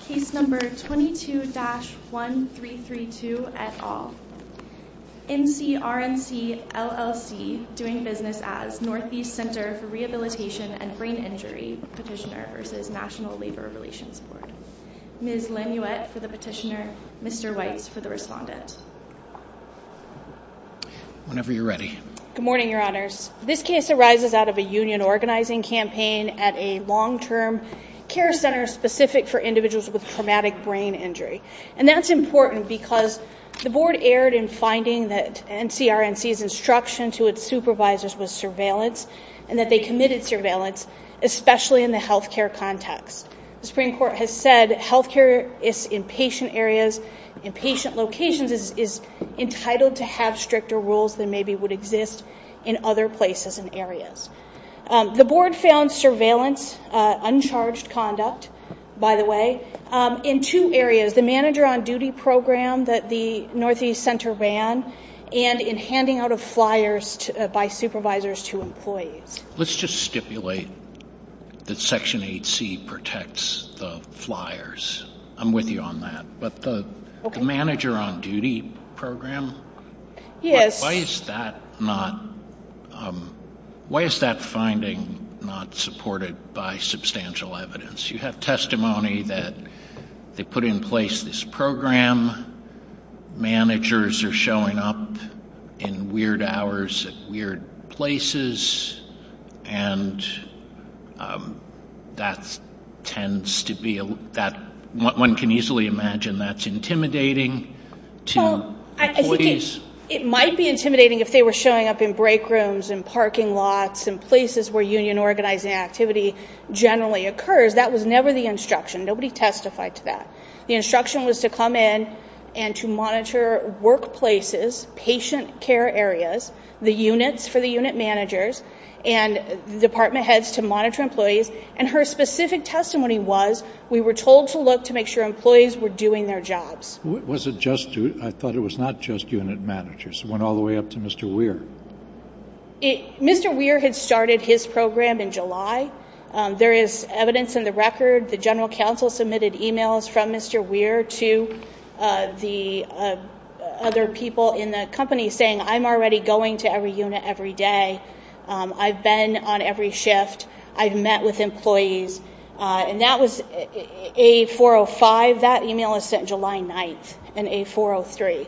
Case number 22-1332, et al. NCRNC, LLC, doing business as Northeast Center for Rehabilitation and Brain Injury Petitioner v. National Labor Relations Board. Ms. Lanouette for the petitioner, Mr. Weitz for the respondent. Whenever you're ready. Good morning, your honors. This case arises out of a union organizing campaign at a long-term care center specific for individuals with traumatic brain injury. And that's important because the board erred in finding that NCRNC's instruction to its supervisors was surveillance and that they committed surveillance, especially in the healthcare context. The Supreme Court has said healthcare is in patient areas, in patient locations is entitled to have stricter rules than maybe would exist in other places and areas. The board found surveillance, uncharged conduct, by the way, in two areas, the manager on duty program that the Northeast Center ran and in handing out of flyers by supervisors to employees. Let's just stipulate that Section 8C protects the flyers. I'm with you on that. But the manager on finding not supported by substantial evidence. You have testimony that they put in place this program. Managers are showing up in weird hours at weird places. And that tends to be that one can easily imagine that's intimidating to employees. It might be intimidating if they were showing up in break rooms and parking lots and places where union organizing activity generally occurs. That was never the instruction. Nobody testified to that. The instruction was to come in and to monitor workplaces, patient care areas, the units for the unit managers and department heads to monitor employees. And her specific testimony was we were told to look to make sure employees were doing their jobs. Was it just you? I thought it was not just unit managers. It went all the way up to Mr. Weir. Mr. Weir had started his program in July. There is evidence in the record the general council submitted emails from Mr. Weir to the other people in the company saying I'm already going to every unit every day. I've been on every shift. I've met with employees. And that was A405. That email was sent July 9th in A403.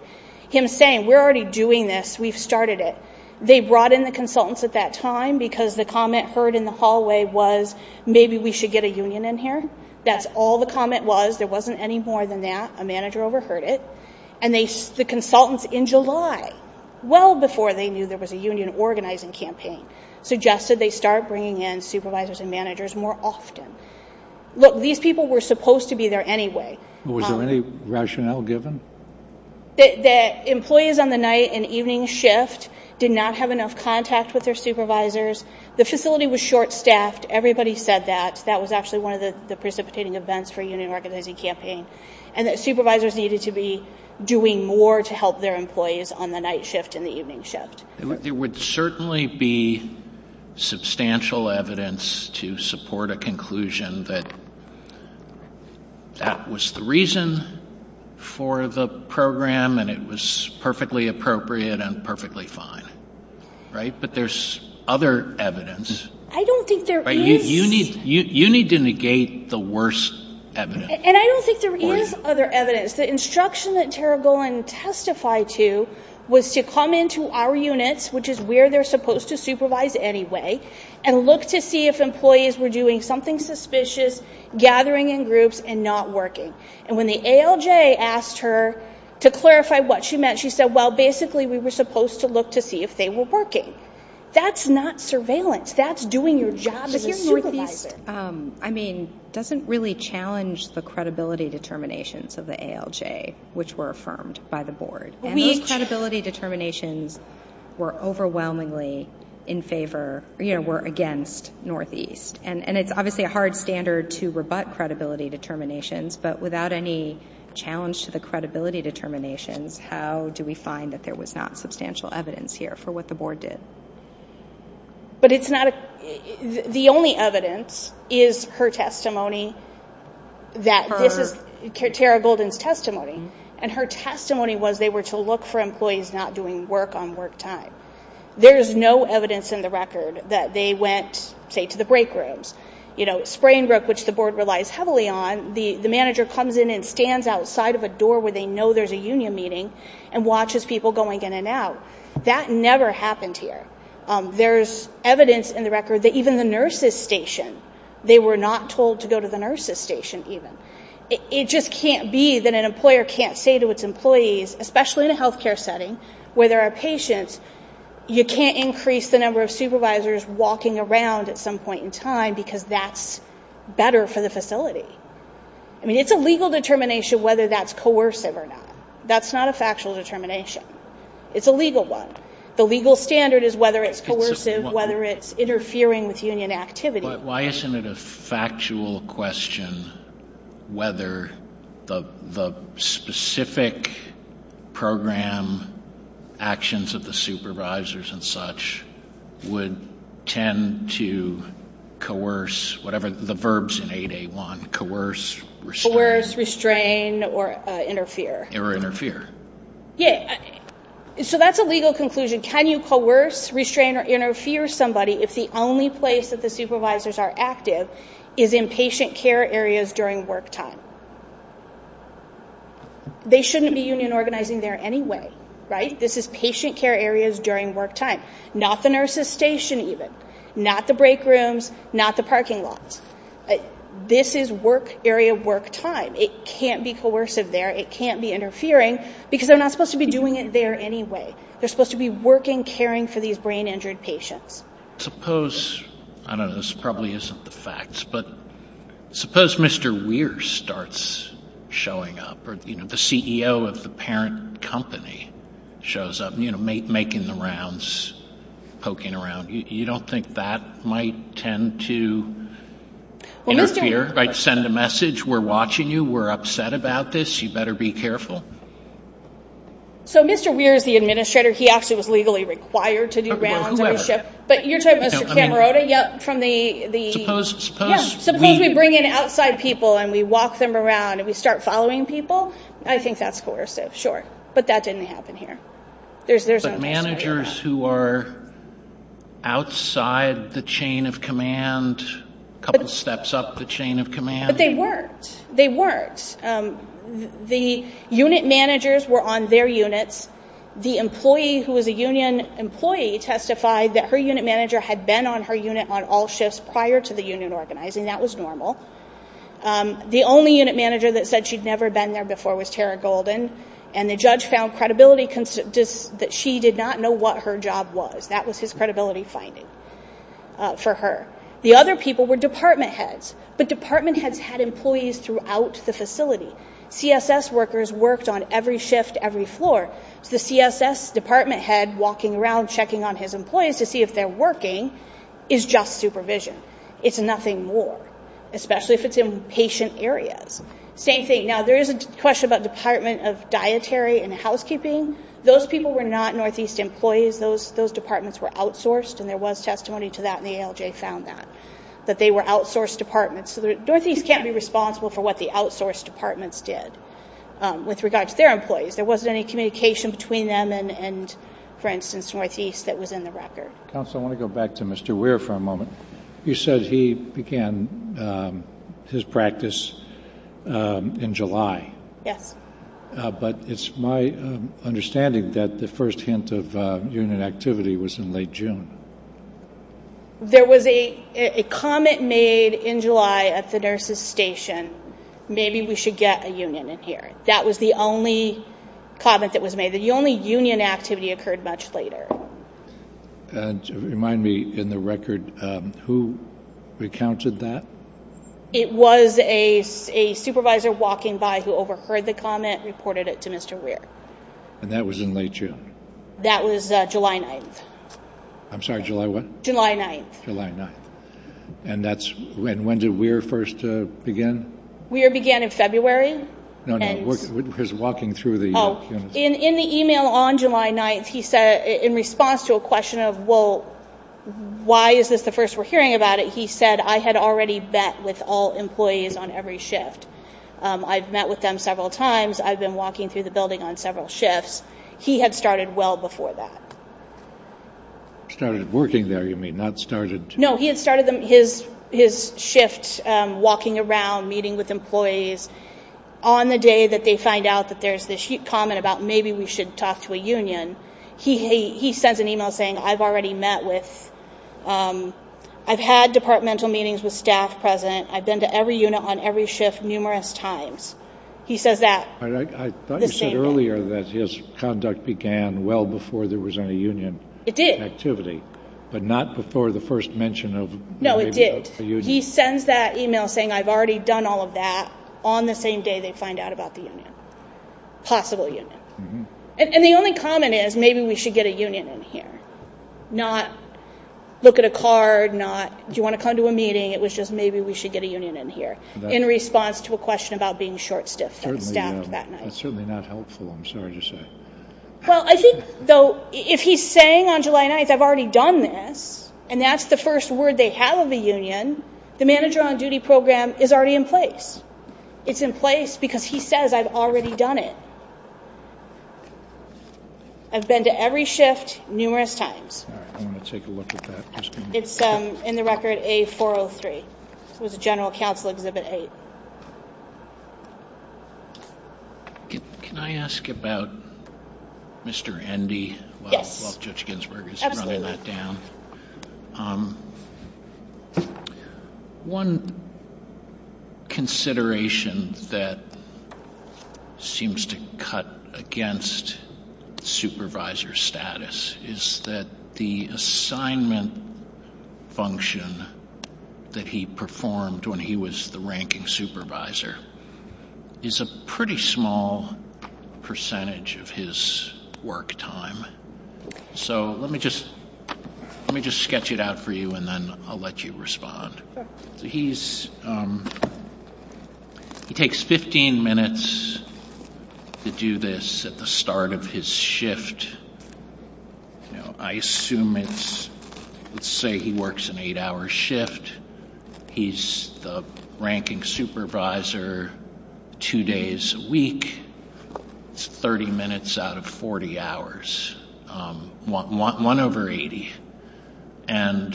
Him saying we're already doing this. We've started it. They brought in the consultants at that time because the comment heard in the hallway was maybe we should get a union in here. That's all the comment was. There wasn't any more than that. A manager overheard it. And the consultants in July, well before they knew there was a union organizing campaign, suggested they start bringing in supervisors and managers more often. Look, these people were supposed to be there anyway. Was there any rationale given? The employees on the night and evening shift did not have enough contact with their supervisors. The facility was short-staffed. Everybody said that. That was actually one of the precipitating events for union organizing campaign. And that supervisors needed to be doing more to help their employees on the night shift and the evening shift. There would certainly be substantial evidence to support a conclusion that that was the reason for the program and it was perfectly appropriate and perfectly fine. Right? But there's other evidence. I don't think there is. You need to negate the worst evidence. And I don't think there is other evidence. So, I think what I would testify to was to come into our units, which is where they're supposed to supervise anyway, and look to see if employees were doing something suspicious, gathering in groups, and not working. And when the ALJ asked her to clarify what she meant, she said, well, basically we were supposed to look to see if they were working. That's not surveillance. That's doing your job as a supervisor. I mean, it doesn't really challenge the credibility determinations of the ALJ, which were affirmed by the board. And those credibility determinations were overwhelmingly in favor, you know, were against Northeast. And it's obviously a hard standard to rebut credibility determinations. But without any challenge to the credibility determinations, how do we find that there was not substantial evidence here for what the board did? But it's not a, the only evidence is her testimony that this is Tara Golden's testimony. And her testimony was they were to look for employees not doing work on work time. There's no evidence in the record that they went, say, to the break rooms. You know, Springbrook, which the board relies heavily on, the manager comes in and stands outside of a door where they know there's a union meeting and watches people going in and out. That never happened here. There's evidence in the record that even the nurses' station, they were not told to go to the nurses' station even. It just can't be that an especially in a health care setting where there are patients, you can't increase the number of supervisors walking around at some point in time because that's better for the facility. I mean, it's a legal determination whether that's coercive or not. That's not a factual determination. It's a legal one. The legal standard is whether it's coercive, whether it's interfering with union activity. Why isn't it a factual question whether the specific program actions of the supervisors and such would tend to coerce, whatever the verbs in 8A1, coerce, restrain, or interfere? Or interfere. Yeah. So that's a legal conclusion. Can you coerce, restrain, or interfere somebody if the only place that the supervisors are active is in patient care areas during work time? They shouldn't be union organizing there anyway, right? This is patient care areas during work time, not the nurses' station even, not the break rooms, not the parking lots. This is work area work time. It can't be coercive there. It can't be interfering because they're not supposed to be doing it there anyway. They're supposed to be working, caring for these brain-injured patients. Suppose, I don't know, this probably isn't the facts, but suppose Mr. Weir starts showing up, or the CEO of the parent company shows up, making the rounds, poking around. You don't think that might tend to interfere, right? Send a message, we're watching you, we're upset about this, you better be careful. So Mr. Weir is the administrator, he actually was legally required to do rounds on the ship, but you're talking about Mr. Camarota? Yeah, from the... Suppose we bring in outside people and we walk them around and we start following people? I think that's coercive, sure. But that didn't happen here. But managers who are outside the chain of command, a couple steps up the chain of command... They weren't. The unit managers were on their units. The employee who was a union employee testified that her unit manager had been on her unit on all shifts prior to the union organizing, that was normal. The only unit manager that said she'd never been there before was Tara Golden, and the judge found credibility that she did not know what her job was. That was his credibility finding for her. The other people were department heads, but department heads had employees throughout the facility. CSS workers worked on every shift, every floor, so the CSS department head walking around checking on his employees to see if they're working is just supervision. It's nothing more, especially if it's in patient areas. Same thing, now there is a question about department of dietary and housekeeping. Those people were not Northeast employees. Those departments were outsourced, and there was testimony to that, and the ALJ found that, that they were outsourced departments. So the Northeast can't be responsible for what the outsourced departments did with regard to their employees. There wasn't any communication between them and, for instance, Northeast that was in the record. Counsel, I want to go back to Mr. Weir for a moment. You said he began his practice in July. Yes. But it's my understanding that the first hint of union activity was in late June. There was a comment made in July at the nurse's station, maybe we should get a union in here. That was the only comment that was made. The only union activity occurred much later. Remind me, in the record, who recounted that? It was a supervisor walking by who overheard the comment, reported it to Mr. Weir. And that was in late June? That was July 9th. I'm sorry, July what? July 9th. July 9th. And that's when did Weir first begin? Weir began in February. No, no, he was walking through the... In the email on July 9th, he said, in response to a question of, well, why is this the first we're hearing about it? He said, I had already met with all employees on every shift. I've met with them several times. I've been walking through the building on several shifts. He had started well before that. Started working there, you mean, not started... No, he had started his shift walking around, meeting with employees. On the day that they find out that there's this comment about maybe we should talk to a union, he sends an email saying, I've already met with... I've had departmental meetings with staff present. I've been to every unit on every shift numerous times. He says that... I thought you said earlier that his conduct began well before there was any union activity. It did. But not before the first mention of... No, it did. He sends that email saying, I've already done all of that. On the same day they find out about the union, possible union. And the only comment is, maybe we should get a union in here. Not look at a card, not, do you want to come to a meeting? It was just maybe we should get a union in here. In response to a question about being short-staffed that night. That's certainly not helpful, I'm sorry to say. Well, I think, though, if he's saying on July 9th, I've already done this, and that's the first word they have of a union, the manager on duty program is already in place. It's in place because he says, I've already done it. I've been to every shift numerous times. I'm going to take a look at that. It's in the record A403. It was a general counsel exhibit 8. Can I ask about Mr. Endy? Yes. Judge Ginsburg is running that down. One consideration that seems to cut against supervisor status is that the assignment function that he performed when he was the ranking supervisor is a pretty small percentage of his work time. So let me just sketch it out for you, and then I'll let you respond. He takes 15 minutes to do this at the start of his shift. I assume it's, let's say he works an eight hour shift. He's the ranking supervisor two days a week. It's 30 minutes out of 40 hours, one over 80. And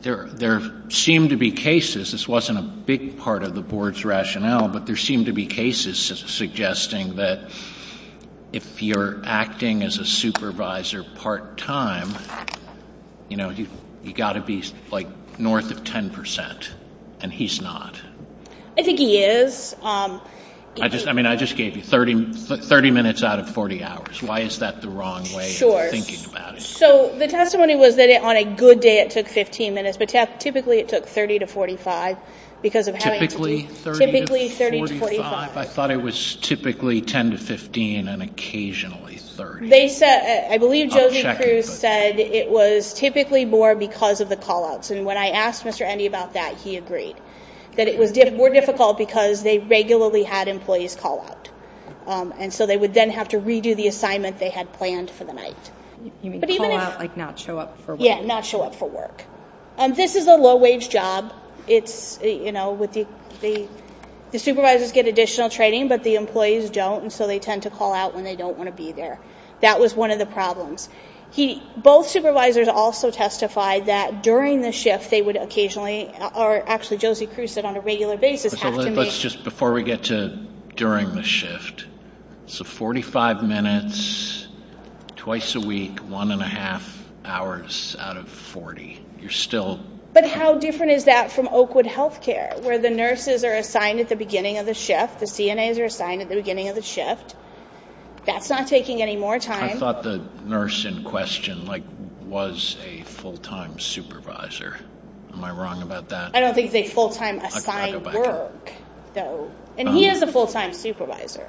there seem to be cases, this wasn't a big part of the board's rationale, but there seem to be cases suggesting that if you're acting as a supervisor part time, you've got to be north of 10%, and he's not. I think he is. I mean, I just gave you 30 minutes out of 40 hours. Why is that the wrong way of thinking about it? So the testimony was that on a good day it took 15 minutes, but typically it took 30 to 45. Typically 30 to 45? I thought it was typically 10 to 15 and occasionally 30. They said, I believe Josie Cruz said it was typically more because of the call outs. And when I asked Mr. Endy about that, he agreed that it was more difficult because they regularly had employees call out. And so they would then have to redo the assignment they had planned for the night. You mean call out, like not show up for work? Yeah, not show up for work. This is a low wage job. It's, you know, the supervisors get additional training, but the employees don't, and so they tend to call out when they don't want to be there. That was one of the problems. Both supervisors also testified that during the shift they would occasionally, or actually Josie Cruz said on a regular basis, have to make- Let's just, before we get to during the shift. So 45 minutes, twice a week, one and a half hours out of 40. You're still- But how different is that from Oakwood Healthcare, where the nurses are assigned at the beginning of the shift? The CNAs are assigned at the beginning of the shift. That's not taking any more time. I thought the nurse in question, like, was a full-time supervisor. Am I wrong about that? I don't think they full-time assigned work, though. And he is a full-time supervisor.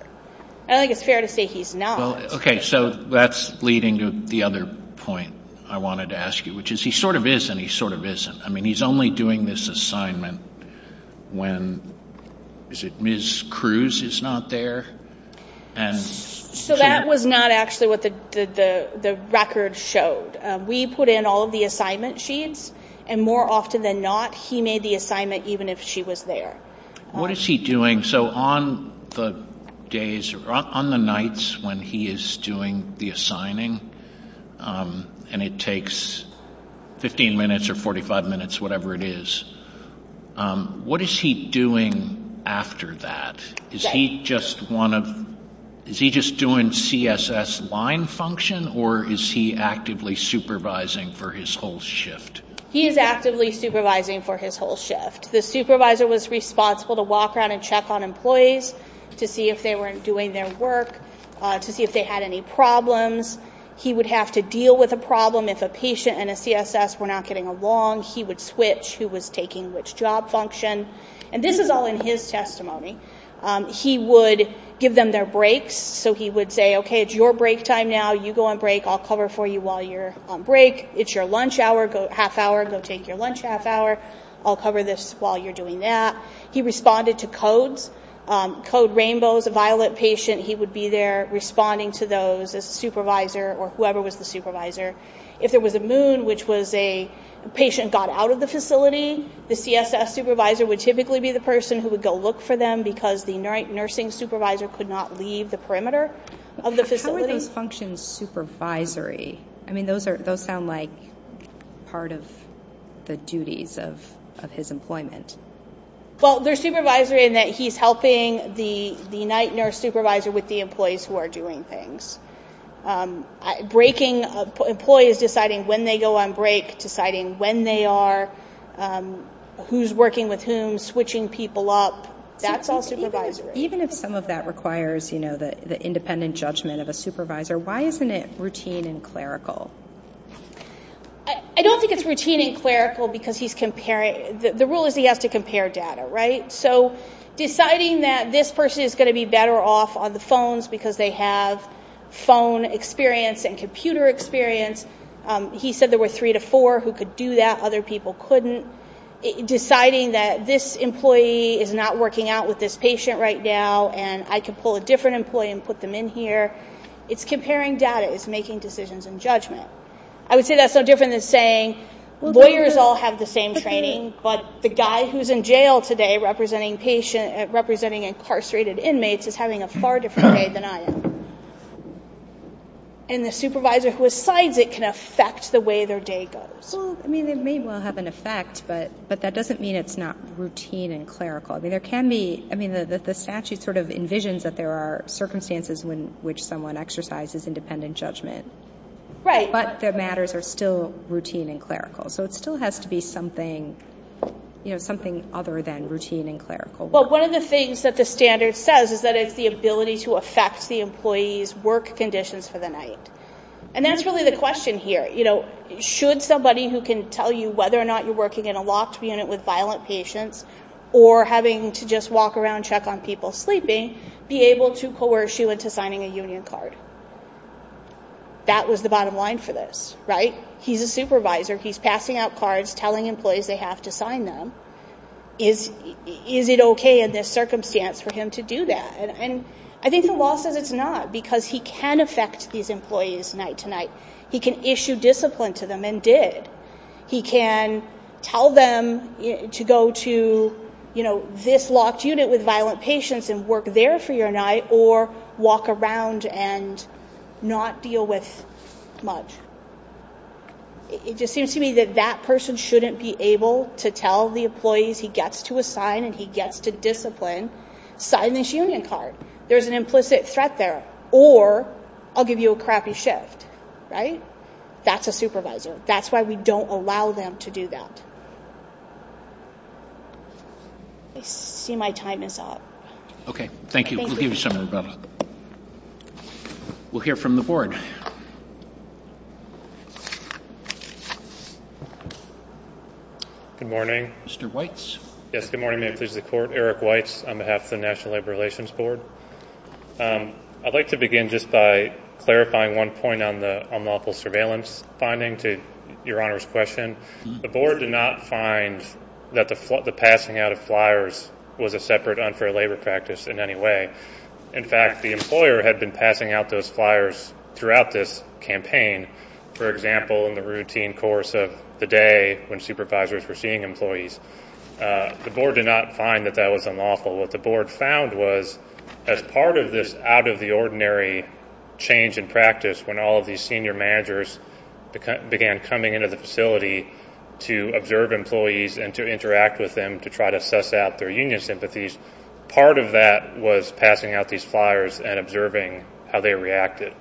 I think it's fair to say he's not. Okay, so that's leading to the other point I wanted to ask you, which is he sort of is and he sort of isn't. I mean, he's only doing this assignment when, is it Ms. Cruz is not there? So that was not actually what the record showed. We put in all of the assignment sheets, and more often than not, he made the assignment even if she was there. What is he doing? So on the days, or on the nights when he is doing the assigning, and it takes 15 minutes or 45 minutes, whatever it is, what is he doing after that? Is he just one of, is he just doing CSS line function, or is he actively supervising for his whole shift? He is actively supervising for his whole shift. The supervisor was responsible to walk around and check on employees to see if they weren't doing their work, to see if they had any problems. He would have to deal with a problem if a patient and a CSS were not getting along. He would switch who was taking which job function. And this is all in his testimony. He would give them their breaks. So he would say, okay, it's your break time now. You go on break. I'll cover for you while you're on break. It's your lunch hour, go half hour, go take your lunch half hour. I'll cover this while you're doing that. He responded to codes, code rainbows, a violet patient, he would be there responding to those as a supervisor or whoever was the supervisor. If there was a moon, which was a patient got out of the facility, the CSS supervisor would typically be the person who would go look for them because the night nursing supervisor could not leave the perimeter of the facility. How are those functions supervisory? I mean, those sound like part of the duties of his employment. Well, they're supervisory in that he's helping the night nurse supervisor with the employees who are doing things. Employees deciding when they go on break, deciding when they are, who's working with whom, switching people up. That's all supervisory. Even if some of that requires the independent judgment of a supervisor, why isn't it routine and clerical? I don't think it's routine and clerical because the rule is he has to compare data, right? So deciding that this person is going to be better off on the phones because they have phone experience and computer experience. He said there were three to four who could do that, other people couldn't. Deciding that this employee is not working out with this patient right now and I can pull a different employee and put them in here, it's comparing data, it's making decisions and judgment. I would say that's no different than saying lawyers all have the same training, but the guy who's in jail today representing incarcerated inmates is having a far different day than I am. And the supervisor who assigns it can affect the way their day goes. I mean, it may well have an effect, but that doesn't mean it's not routine and clerical. I mean, the statute sort of envisions that there are circumstances in which someone exercises independent judgment. Right. But their matters are still routine and clerical. So it still has to be something, you know, something other than routine and clerical. But one of the things that the standard says is that it's the ability to affect the employee's work conditions for the night. And that's really the question here. You know, should somebody who can tell you whether or not you're working in a locked unit with violent patients or having to just walk around, check on people sleeping, be able to coerce you into signing a union card? That was the bottom line for this, right? He's a supervisor. He's passing out cards, telling employees they have to sign them. Is it OK in this circumstance for him to do that? And I think the law says it's not because he can affect these employees night to night. He can issue discipline to them and did. He can tell them to go to, you know, this locked unit with violent patients and work there for your night or walk around and not deal with much. It just seems to me that that person shouldn't be able to tell the employees he gets to assign and he gets to discipline, sign this union card. There is an implicit threat there or I'll give you a crappy shift. Right. That's a supervisor. That's why we don't allow them to do that. I see my time is up. OK, thank you. We'll give you some. We'll hear from the board. Good morning, Mr. Weitz. Yes, good morning. May it please the court. Eric Weitz on behalf of the National Labor Relations Board. I'd like to begin just by clarifying one point on the unlawful surveillance finding to your honor's question. The board did not find that the passing out of flyers was a separate unfair labor practice in any way. In fact, the employer had been passing out those flyers throughout this campaign. For example, in the routine course of the day when supervisors were seeing employees, the board did not find that that was unlawful. What the board found was as part of this out of the ordinary change in practice, when all of these senior managers began coming into the facility to observe employees and to interact with them to try to suss out their union sympathies. Part of that was passing out these flyers and observing how they reacted.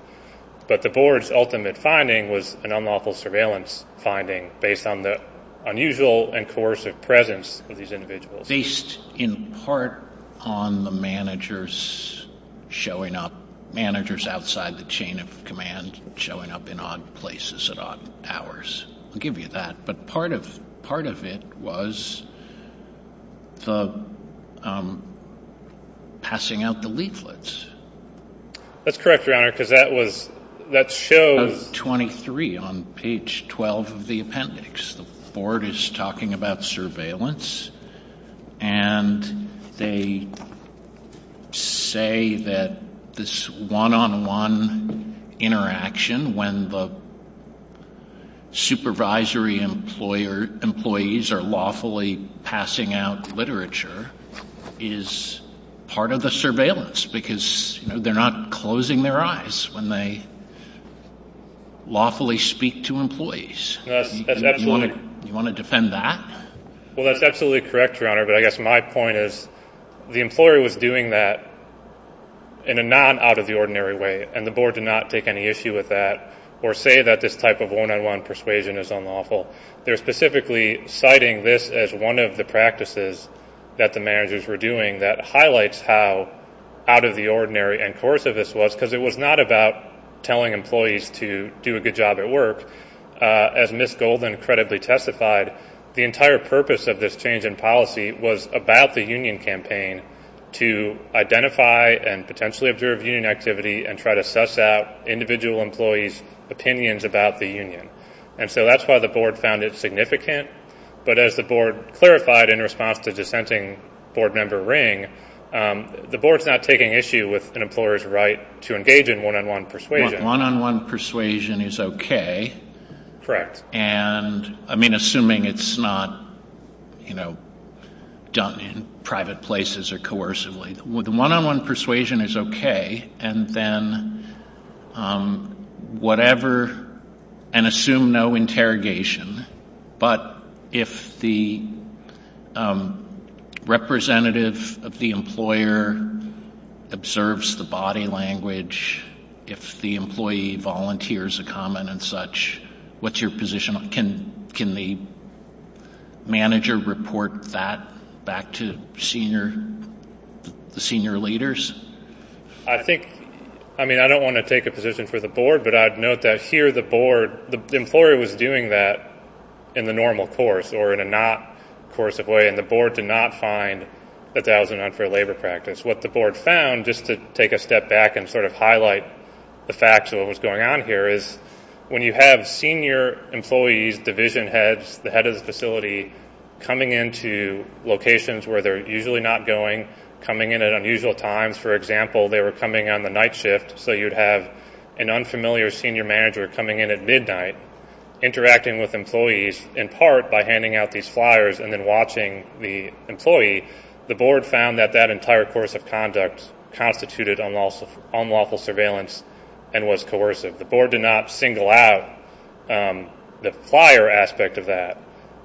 But the board's ultimate finding was an unlawful surveillance finding based on the unusual and coercive presence of these individuals. Based in part on the managers showing up, managers outside the chain of command showing up in odd places at odd hours. I'll give you that. But part of part of it was the passing out the leaflets. That's correct, your honor, because that was that shows 23 on page 12 of the appendix. The board is talking about surveillance and they say that this one on one interaction when the supervisory employer employees are lawfully passing out literature is part of the surveillance. Because they're not closing their eyes when they lawfully speak to employees. You want to defend that? Well, that's absolutely correct, your honor. But I guess my point is the employer was doing that in a non out of the ordinary way. And the board did not take any issue with that or say that this type of one on one persuasion is unlawful. They're specifically citing this as one of the practices that the managers were doing that highlights how out of the ordinary and coercive this was because it was not about telling employees to do a good job at work. As Miss Golden credibly testified, the entire purpose of this change in policy was about the union campaign to identify and potentially observe union activity and try to suss out individual employees opinions about the union. And so that's why the board found it significant. But as the board clarified in response to dissenting board member Ring, the board's not taking issue with an employer's right to engage in one on one persuasion. One on one persuasion is okay. Correct. And I mean, assuming it's not, you know, done in private places or coercively. The one on one persuasion is okay. And then whatever and assume no interrogation. But if the representative of the employer observes the body language, if the employee volunteers a comment and such, what's your position? Can the manager report that back to senior leaders? I think, I mean, I don't want to take a position for the board, but I'd note that here the board, the employer was doing that in the normal course or in a not coercive way. And the board did not find that that was an unfair labor practice. What the board found, just to take a step back and sort of highlight the facts of what was going on here, is when you have senior employees, division heads, the head of the facility coming into locations where they're usually not going, coming in at unusual times. For example, they were coming on the night shift, so you'd have an unfamiliar senior manager coming in at midnight, interacting with employees in part by handing out these flyers and then watching the employee. The board found that that entire course of conduct constituted unlawful surveillance and was coercive. The board did not single out the flyer aspect of that.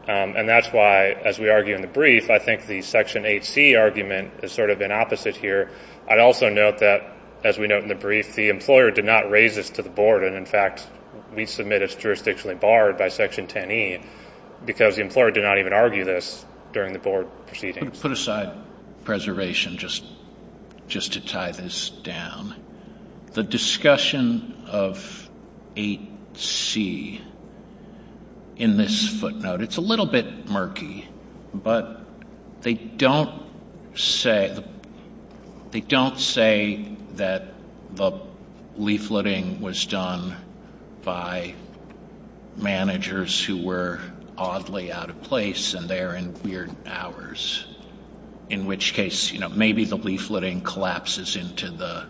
And that's why, as we argue in the brief, I think the Section 8C argument is sort of in opposite here. I'd also note that, as we note in the brief, the employer did not raise this to the board. And, in fact, we submit it's jurisdictionally barred by Section 10E because the employer did not even argue this during the board proceedings. I'm going to put aside preservation just to tie this down. The discussion of 8C in this footnote, it's a little bit murky, but they don't say that the leafleting was done by managers who were oddly out of place and they're in weird hours. In which case, you know, maybe the leafleting collapses into the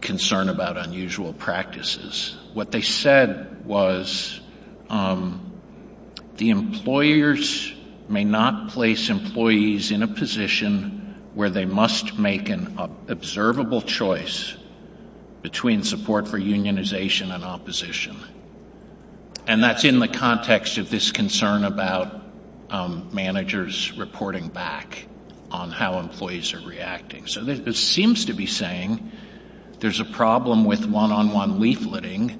concern about unusual practices. What they said was the employers may not place employees in a position where they must make an observable choice between support for unionization and opposition. And that's in the context of this concern about managers reporting back on how employees are reacting. So it seems to be saying there's a problem with one-on-one leafleting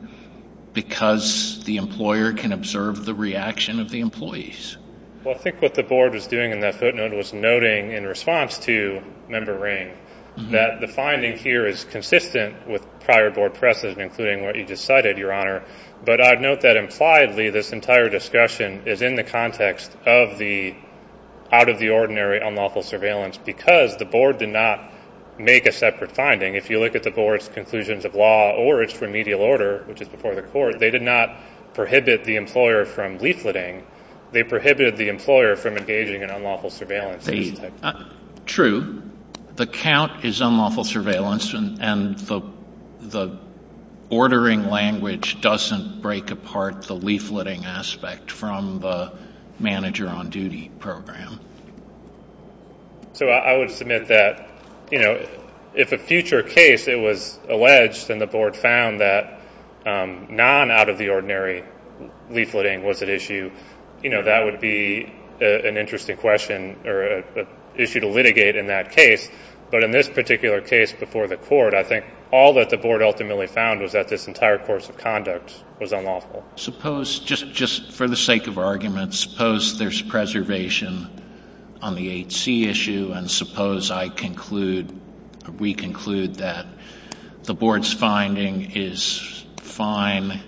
because the employer can observe the reaction of the employees. Well, I think what the board was doing in that footnote was noting in response to Member Ring that the finding here is consistent with prior board precedent, including what you just cited, Your Honor. But I'd note that impliedly, this entire discussion is in the context of the out-of-the-ordinary unlawful surveillance because the board did not make a separate finding. If you look at the board's conclusions of law or its remedial order, which is before the court, they did not prohibit the employer from leafleting. They prohibited the employer from engaging in unlawful surveillance. True. The count is unlawful surveillance, and the ordering language doesn't break apart the leafleting aspect from the manager on duty program. So I would submit that, you know, if a future case, it was alleged and the board found that non-out-of-the-ordinary leafleting was at issue, you know, that would be an interesting question, or an issue to litigate in that case. But in this particular case before the court, I think all that the board ultimately found was that this entire course of conduct was unlawful. Suppose, just for the sake of argument, suppose there's preservation on the 8C issue, and suppose I conclude, we conclude that the board's finding is fine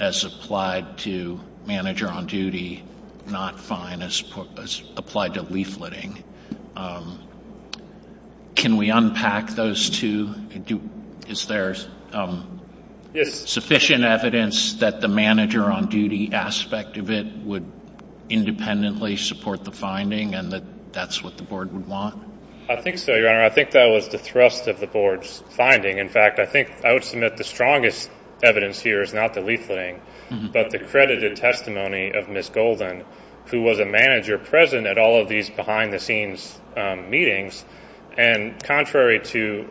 as applied to manager on duty, not fine as applied to leafleting. Can we unpack those two? Is there sufficient evidence that the manager on duty aspect of it would independently support the finding and that that's what the board would want? I think so, Your Honor. I think that was the thrust of the board's finding. In fact, I think I would submit the strongest evidence here is not the leafleting, but the credited testimony of Ms. Golden, who was a manager present at all of these behind-the-scenes meetings. And contrary to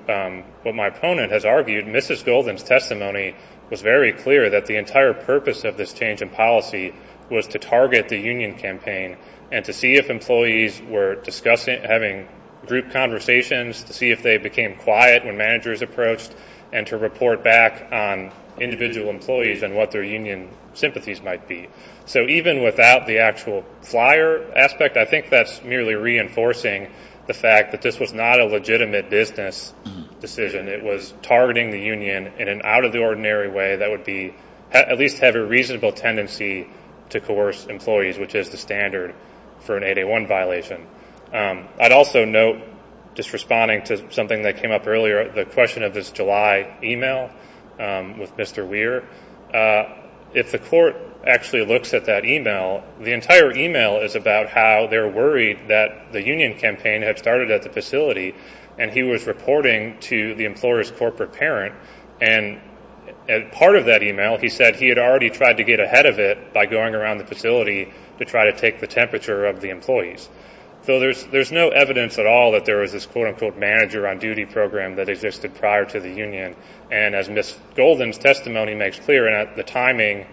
what my opponent has argued, Mrs. Golden's testimony was very clear that the entire purpose of this change in policy was to target the union campaign and to see if employees were discussing, having group conversations, to see if they became quiet when managers approached, and to report back on individual employees and what their union sympathies might be. So even without the actual flyer aspect, I think that's merely reinforcing the fact that this was not a legitimate business decision. It was targeting the union in an out-of-the-ordinary way that would at least have a reasonable tendency to coerce employees, which is the standard for an 8A1 violation. I'd also note, just responding to something that came up earlier, the question of this July email with Mr. Weir. If the court actually looks at that email, the entire email is about how they're worried that the union campaign had started at the facility and he was reporting to the employer's corporate parent. And part of that email, he said he had already tried to get ahead of it by going around the facility to try to take the temperature of the employees. So there's no evidence at all that there was this quote-unquote manager on duty program that existed prior to the union. And as Ms. Golden's testimony makes clear, the timing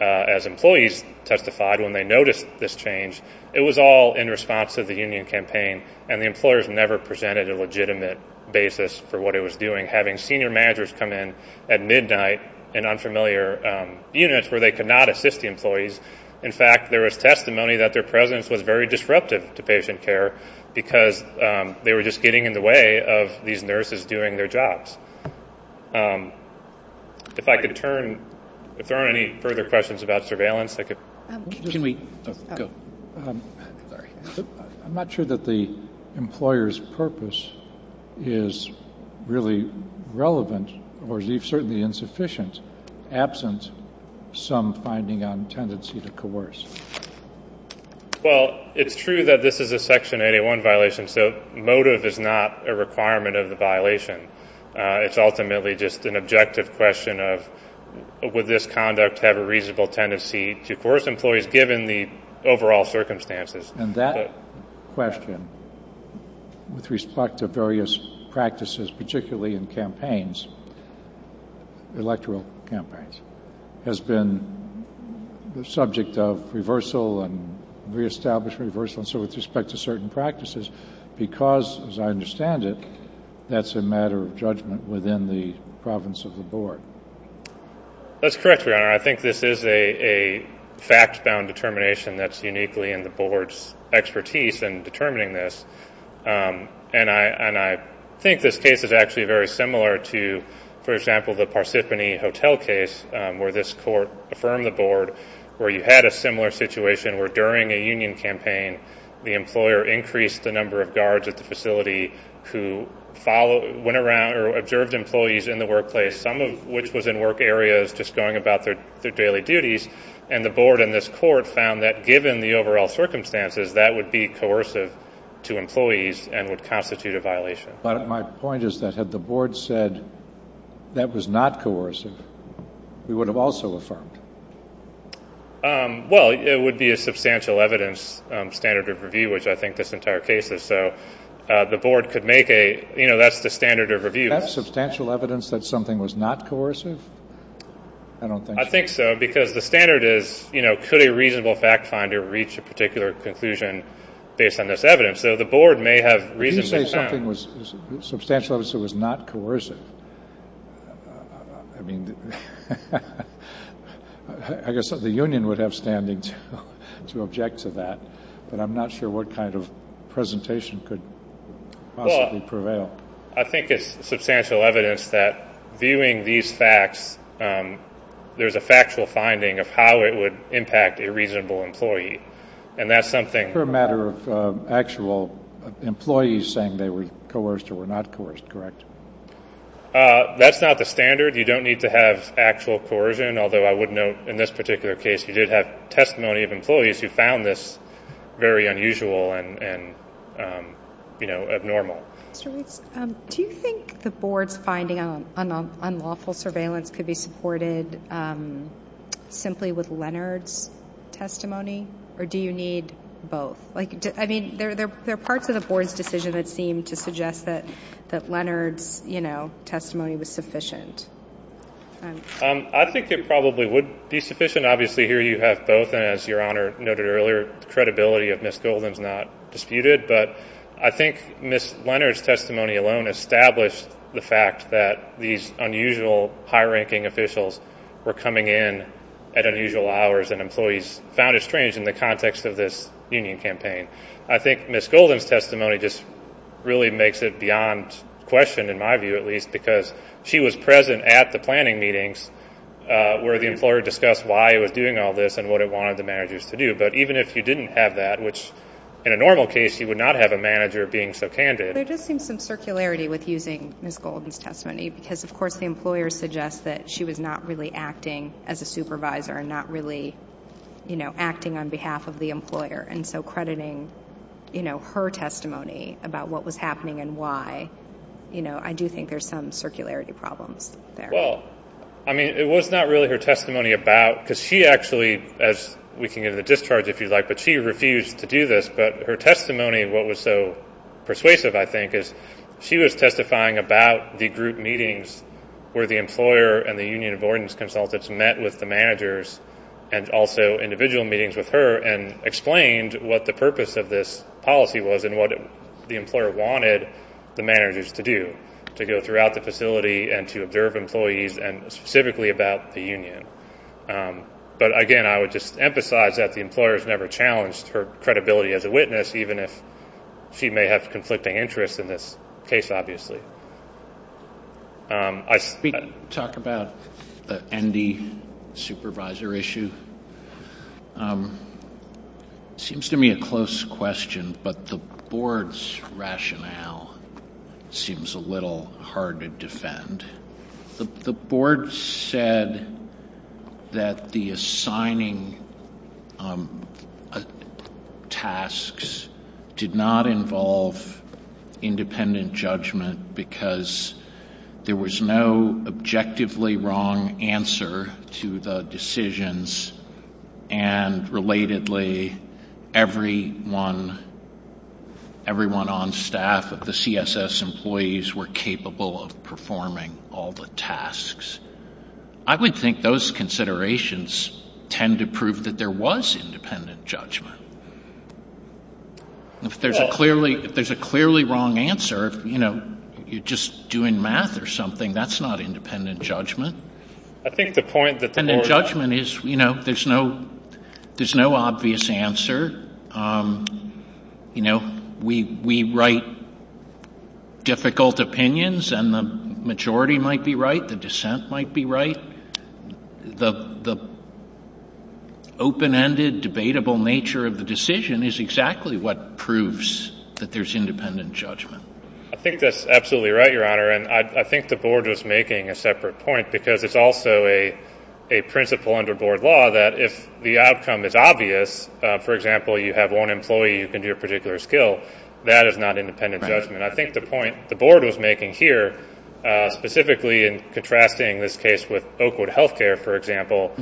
as employees testified when they noticed this change, it was all in response to the union campaign and the employers never presented a legitimate basis for what it was doing, having senior managers come in at midnight in unfamiliar units where they could not assist the employees. In fact, there was testimony that their presence was very disruptive to patient care because they were just getting in the way of these nurses doing their jobs. If I could turn, if there aren't any further questions about surveillance, I could. Can we go? I'm not sure that the employer's purpose is really relevant or certainly insufficient, absent some finding on tendency to coerce. Well, it's true that this is a Section 81 violation, so motive is not a requirement of the violation. It's ultimately just an objective question of would this conduct have a reasonable tendency to coerce employees given the overall circumstances. And that question, with respect to various practices, particularly in campaigns, electoral campaigns, has been the subject of reversal and reestablish reversal and so with respect to certain practices because, as I understand it, that's a matter of judgment within the province of the board. That's correct, Your Honor. I think this is a fact-bound determination that's uniquely in the board's expertise in determining this. And I think this case is actually very similar to, for example, the Parsippany Hotel case where this court affirmed the board where you had a similar situation where during a union campaign the employer increased the number of guards at the facility who went around or observed employees in the workplace, some of which was in work areas just going about their daily duties, and the board in this court found that given the overall circumstances that would be coercive to employees and would constitute a violation. But my point is that had the board said that was not coercive, we would have also affirmed. Well, it would be a substantial evidence standard of review, which I think this entire case is. So the board could make a, you know, that's the standard of review. That's substantial evidence that something was not coercive? I don't think so. I think so because the standard is, you know, could a reasonable fact finder reach a particular conclusion based on this evidence? So the board may have reasonably found. Did you say something was substantial evidence that was not coercive? I mean, I guess the union would have standing to object to that, but I'm not sure what kind of presentation could possibly prevail. Well, I think it's substantial evidence that viewing these facts, there's a factual finding of how it would impact a reasonable employee, and that's something. It's a matter of actual employees saying they were coerced or were not coerced, correct? That's not the standard. You don't need to have actual coercion, although I would note in this particular case you did have testimony of employees who found this very unusual and, you know, abnormal. Mr. Weeks, do you think the board's finding on unlawful surveillance could be supported simply with Leonard's testimony, or do you need both? I mean, there are parts of the board's decision that seem to suggest that Leonard's, you know, testimony was sufficient. I think it probably would be sufficient. Obviously, here you have both, and as Your Honor noted earlier, the credibility of Ms. Golden is not disputed, but I think Ms. Leonard's testimony alone established the fact that these unusual high-ranking officials were coming in at unusual hours and employees found it strange in the context of this union campaign. I think Ms. Golden's testimony just really makes it beyond question, in my view at least, because she was present at the planning meetings where the employer discussed why it was doing all this and what it wanted the managers to do. But even if you didn't have that, which in a normal case you would not have a manager being so candid. There just seems some circularity with using Ms. Golden's testimony because, of course, the employer suggests that she was not really acting as a supervisor and not really, you know, acting on behalf of the employer, and so crediting, you know, her testimony about what was happening and why, you know, I do think there's some circularity problems there. Well, I mean, it was not really her testimony about, because she actually, as we can get to the discharge if you'd like, but she refused to do this, but her testimony, what was so persuasive, I think, is she was testifying about the group meetings where the employer and the union of ordinance consultants met with the managers and also individual meetings with her and explained what the purpose of this policy was and what the employer wanted the managers to do, to go throughout the facility and to observe employees and specifically about the union. But, again, I would just emphasize that the employer has never challenged her credibility as a witness, even if she may have conflicting interests in this case, obviously. Can we talk about the ND supervisor issue? It seems to me a close question, but the board's rationale seems a little hard to defend. The board said that the assigning tasks did not involve independent judgment because there was no objectively wrong answer to the decisions, and, relatedly, everyone on staff of the CSS employees were capable of performing all the tasks. I would think those considerations tend to prove that there was independent judgment. If there's a clearly wrong answer, you know, you're just doing math or something. That's not independent judgment. I think the point that the board— Independent judgment is, you know, there's no obvious answer. You know, we write difficult opinions, and the majority might be right. The dissent might be right. The open-ended, debatable nature of the decision is exactly what proves that there's independent judgment. I think that's absolutely right, Your Honor, and I think the board was making a separate point because it's also a principle under board law that if the outcome is obvious, for example, you have one employee who can do a particular skill, that is not independent judgment. I think the point the board was making here, specifically in contrasting this case with Oakwood Healthcare, for example,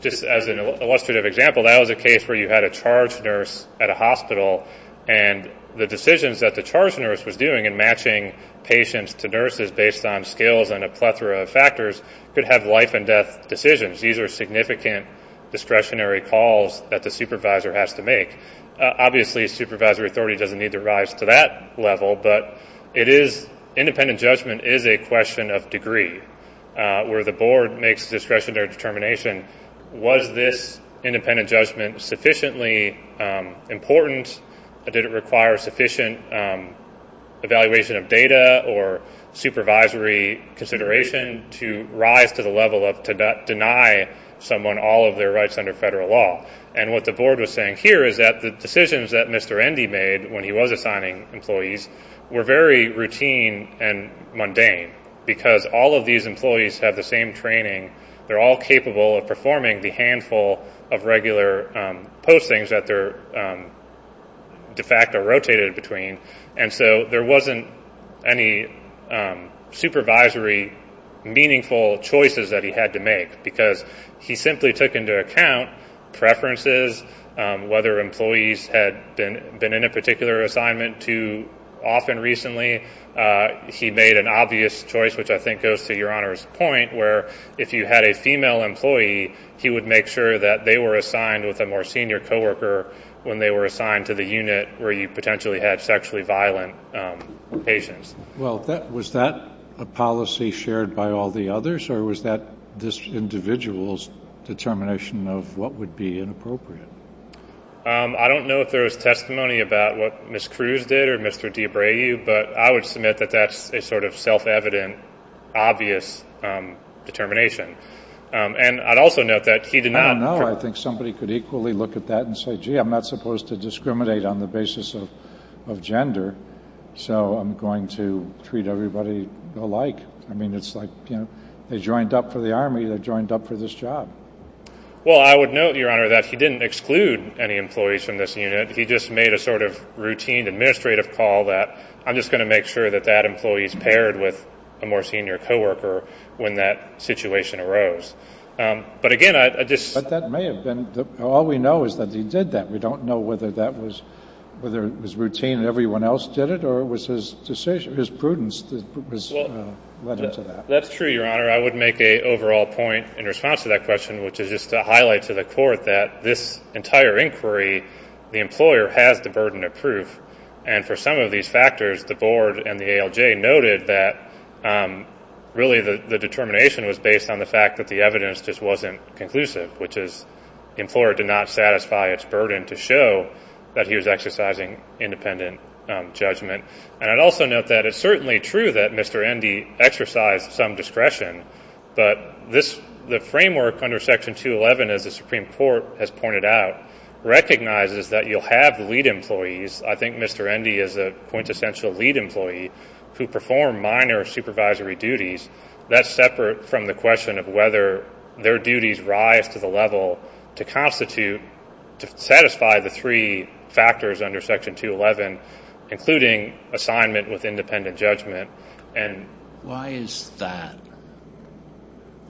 just as an illustrative example, that was a case where you had a charge nurse at a hospital, and the decisions that the charge nurse was doing in matching patients to nurses based on skills and a plethora of factors could have life-and-death decisions. These are significant discretionary calls that the supervisor has to make. Obviously, supervisory authority doesn't need to rise to that level, but independent judgment is a question of degree where the board makes discretionary determination. Was this independent judgment sufficiently important? Did it require sufficient evaluation of data or supervisory consideration to rise to the level of to deny someone all of their rights under federal law? What the board was saying here is that the decisions that Mr. Endy made when he was assigning employees were very routine and mundane because all of these employees have the same training. They're all capable of performing the handful of regular postings that they're de facto rotated between, and so there wasn't any supervisory meaningful choices that he had to make because he simply took into account preferences, whether employees had been in a particular assignment too often recently. He made an obvious choice, which I think goes to Your Honor's point, where if you had a female employee, he would make sure that they were assigned with a more senior coworker when they were assigned to the unit where you potentially had sexually violent patients. Well, was that a policy shared by all the others, or was that this individual's determination of what would be inappropriate? I don't know if there was testimony about what Ms. Cruz did or Mr. DeBrayeu, but I would submit that that's a sort of self-evident, obvious determination. And I'd also note that he did not – I don't know. I think somebody could equally look at that and say, gee, I'm not supposed to discriminate on the basis of gender, so I'm going to treat everybody alike. I mean, it's like they joined up for the Army, they joined up for this job. Well, I would note, Your Honor, that he didn't exclude any employees from this unit. He just made a sort of routine administrative call that I'm just going to make sure that that employee is paired with a more senior coworker when that situation arose. But again, I just – But that may have been – all we know is that he did that. We don't know whether that was – whether it was routine and everyone else did it or it was his decision – his prudence that was led him to that. That's true, Your Honor. I would make an overall point in response to that question, which is just to highlight to the Court that this entire inquiry, the employer has the burden of proof. And for some of these factors, the Board and the ALJ noted that really the determination was based on the fact that the evidence just wasn't conclusive, which is the employer did not satisfy its burden to show that he was exercising independent judgment. And I'd also note that it's certainly true that Mr. Endy exercised some discretion, but this – the framework under Section 211, as the Supreme Court has pointed out, recognizes that you'll have lead employees. I think Mr. Endy is a quintessential lead employee who performed minor supervisory duties. That's separate from the question of whether their duties rise to the level to constitute – to satisfy the three factors under Section 211, including assignment with independent judgment. Why is that?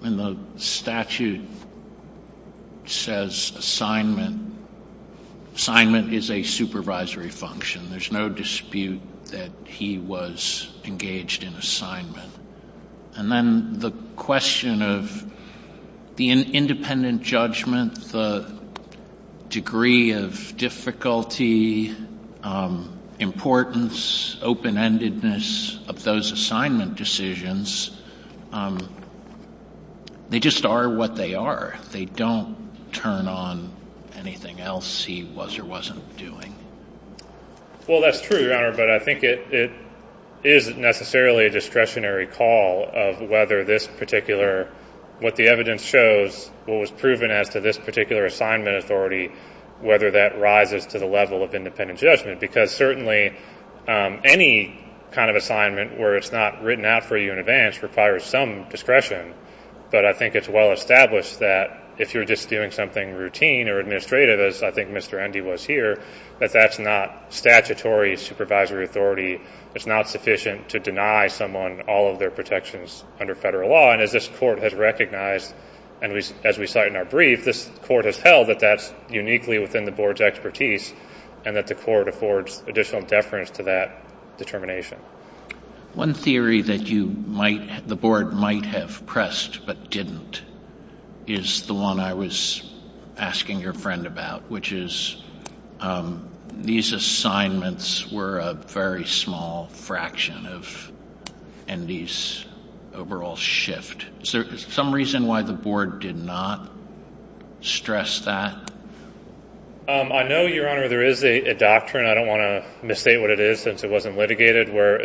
The statute says assignment – assignment is a supervisory function. There's no dispute that he was engaged in assignment. And then the question of the independent judgment, the degree of difficulty, importance, open-endedness of those assignment decisions, they just are what they are. They don't turn on anything else he was or wasn't doing. Well, that's true, Your Honor, but I think it isn't necessarily a discretionary call of whether this particular – what the evidence shows, what was proven as to this particular assignment authority, whether that rises to the level of independent judgment, because certainly any kind of assignment where it's not written out for you in advance requires some discretion. But I think it's well established that if you're just doing something routine or administrative, as I think Mr. Endy was here, that that's not statutory supervisory authority. It's not sufficient to deny someone all of their protections under federal law. And as this Court has recognized, and as we cite in our brief, this Court has held that that's uniquely within the Board's expertise and that the Court affords additional deference to that determination. One theory that you might – the Board might have pressed but didn't is the one I was asking your friend about, which is these assignments were a very small fraction of Endy's overall shift. Is there some reason why the Board did not stress that? I know, Your Honor, there is a doctrine – I don't want to misstate what it is since it wasn't litigated – where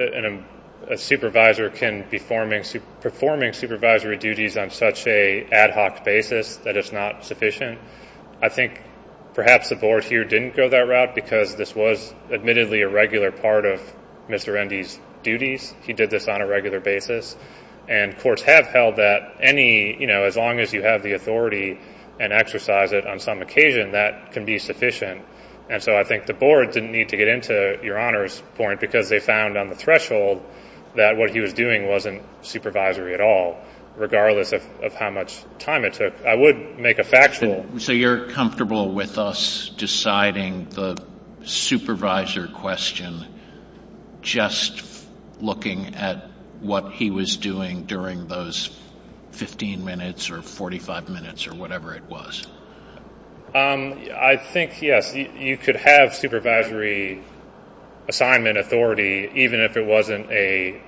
a supervisor can be performing supervisory duties on such an ad hoc basis that it's not sufficient. I think perhaps the Board here didn't go that route because this was admittedly a regular part of Mr. Endy's duties. He did this on a regular basis. And courts have held that any – you know, as long as you have the authority and exercise it on some occasion, that can be sufficient. And so I think the Board didn't need to get into Your Honor's point because they found on the threshold that what he was doing wasn't supervisory at all, regardless of how much time it took. I would make a factual – So you're comfortable with us deciding the supervisor question just looking at what he was doing during those 15 minutes or 45 minutes or whatever it was? I think, yes, you could have supervisory assignment authority even if it wasn't a –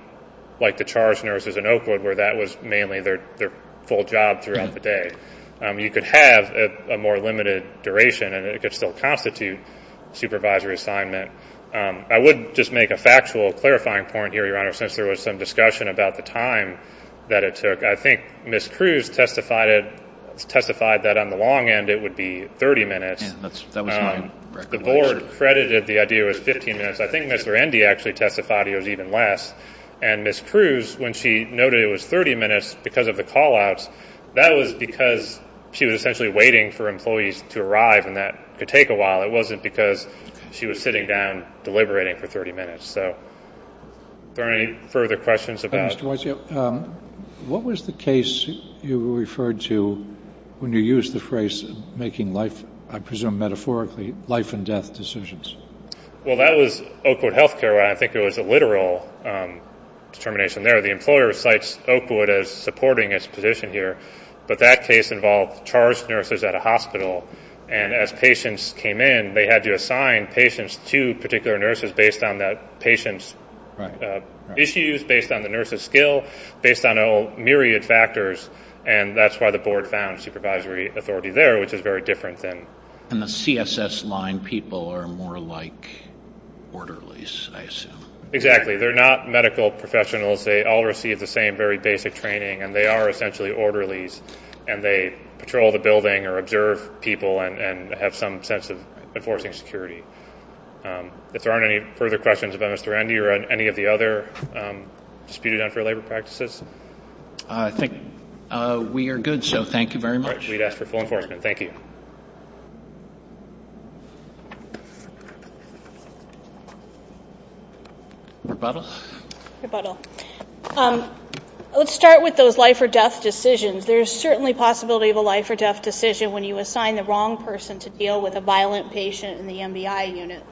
you could have a more limited duration and it could still constitute supervisory assignment. I would just make a factual clarifying point here, Your Honor, since there was some discussion about the time that it took. I think Ms. Cruz testified that on the long end it would be 30 minutes. The Board credited the idea as 15 minutes. I think Mr. Endy actually testified it was even less. And Ms. Cruz, when she noted it was 30 minutes because of the call-outs, that was because she was essentially waiting for employees to arrive and that could take a while. It wasn't because she was sitting down deliberating for 30 minutes. So are there any further questions about – What was the case you referred to when you used the phrase making life – I presume metaphorically life and death decisions? Well, that was Oakwood Health Care. I think it was a literal determination there. The employer cites Oakwood as supporting its position here. But that case involved charged nurses at a hospital. And as patients came in, they had to assign patients to particular nurses based on that patient's issues, based on the nurse's skill, based on a myriad of factors. And that's why the Board found supervisory authority there, which is very different than – And the CSS line people are more like orderlies, I assume. Exactly. They're not medical professionals. They all receive the same very basic training, and they are essentially orderlies, and they patrol the building or observe people and have some sense of enforcing security. If there aren't any further questions about Mr. Endy or any of the other disputed unfair labor practices? I think we are good, so thank you very much. We'd ask for full enforcement. Thank you. Rebuttal? Rebuttal. Let's start with those life-or-death decisions. There is certainly a possibility of a life-or-death decision when you assign the wrong person to deal with a violent patient in the MBI unit.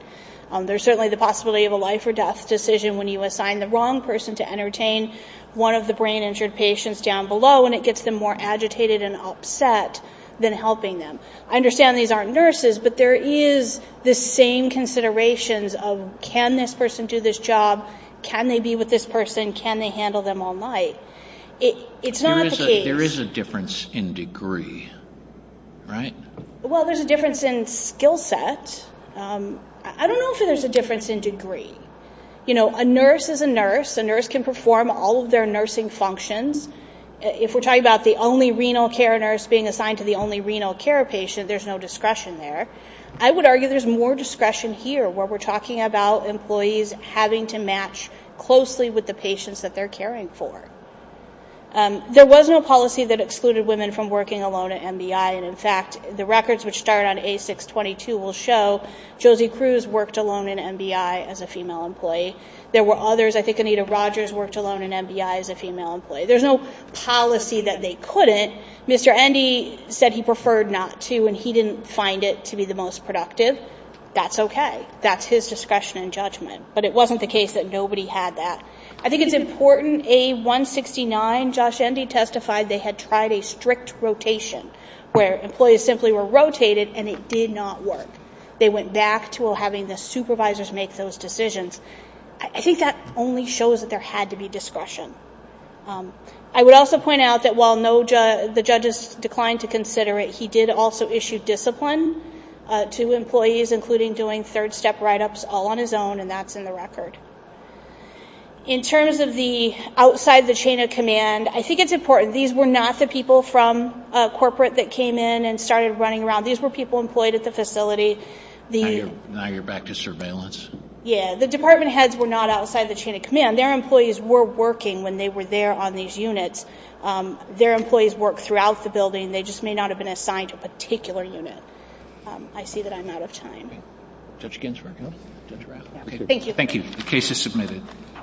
There's certainly the possibility of a life-or-death decision when you assign the wrong person to entertain one of the brain-injured patients down below, and it gets them more agitated and upset than helping them. I understand these aren't nurses, but there is the same considerations of can this person do this job, can they be with this person, can they handle them all night. It's not the case. There is a difference in degree, right? Well, there's a difference in skill set. I don't know if there's a difference in degree. You know, a nurse is a nurse. A nurse can perform all of their nursing functions. If we're talking about the only renal care nurse being assigned to the only renal care patient, there's no discretion there. I would argue there's more discretion here, where we're talking about employees having to match closely with the patients that they're caring for. There was no policy that excluded women from working alone at MBI, and, in fact, the records which start on A622 will show Josie Cruz worked alone in MBI as a female employee. There were others. I think Anita Rogers worked alone in MBI as a female employee. There's no policy that they couldn't. Mr. Endy said he preferred not to, and he didn't find it to be the most productive. That's okay. That's his discretion and judgment. But it wasn't the case that nobody had that. I think it's important, A169, Josh Endy testified they had tried a strict rotation, where employees simply were rotated and it did not work. They went back to having the supervisors make those decisions. I think that only shows that there had to be discretion. I would also point out that while the judges declined to consider it, he did also issue discipline to employees, including doing third-step write-ups all on his own, and that's in the record. In terms of the outside the chain of command, I think it's important. These were not the people from corporate that came in and started running around. These were people employed at the facility. Now you're back to surveillance. Yeah. The department heads were not outside the chain of command. Their employees were working when they were there on these units. Their employees work throughout the building. They just may not have been assigned to a particular unit. I see that I'm out of time. Judge Ginsburg. Judge Rafferty. Thank you. Thank you.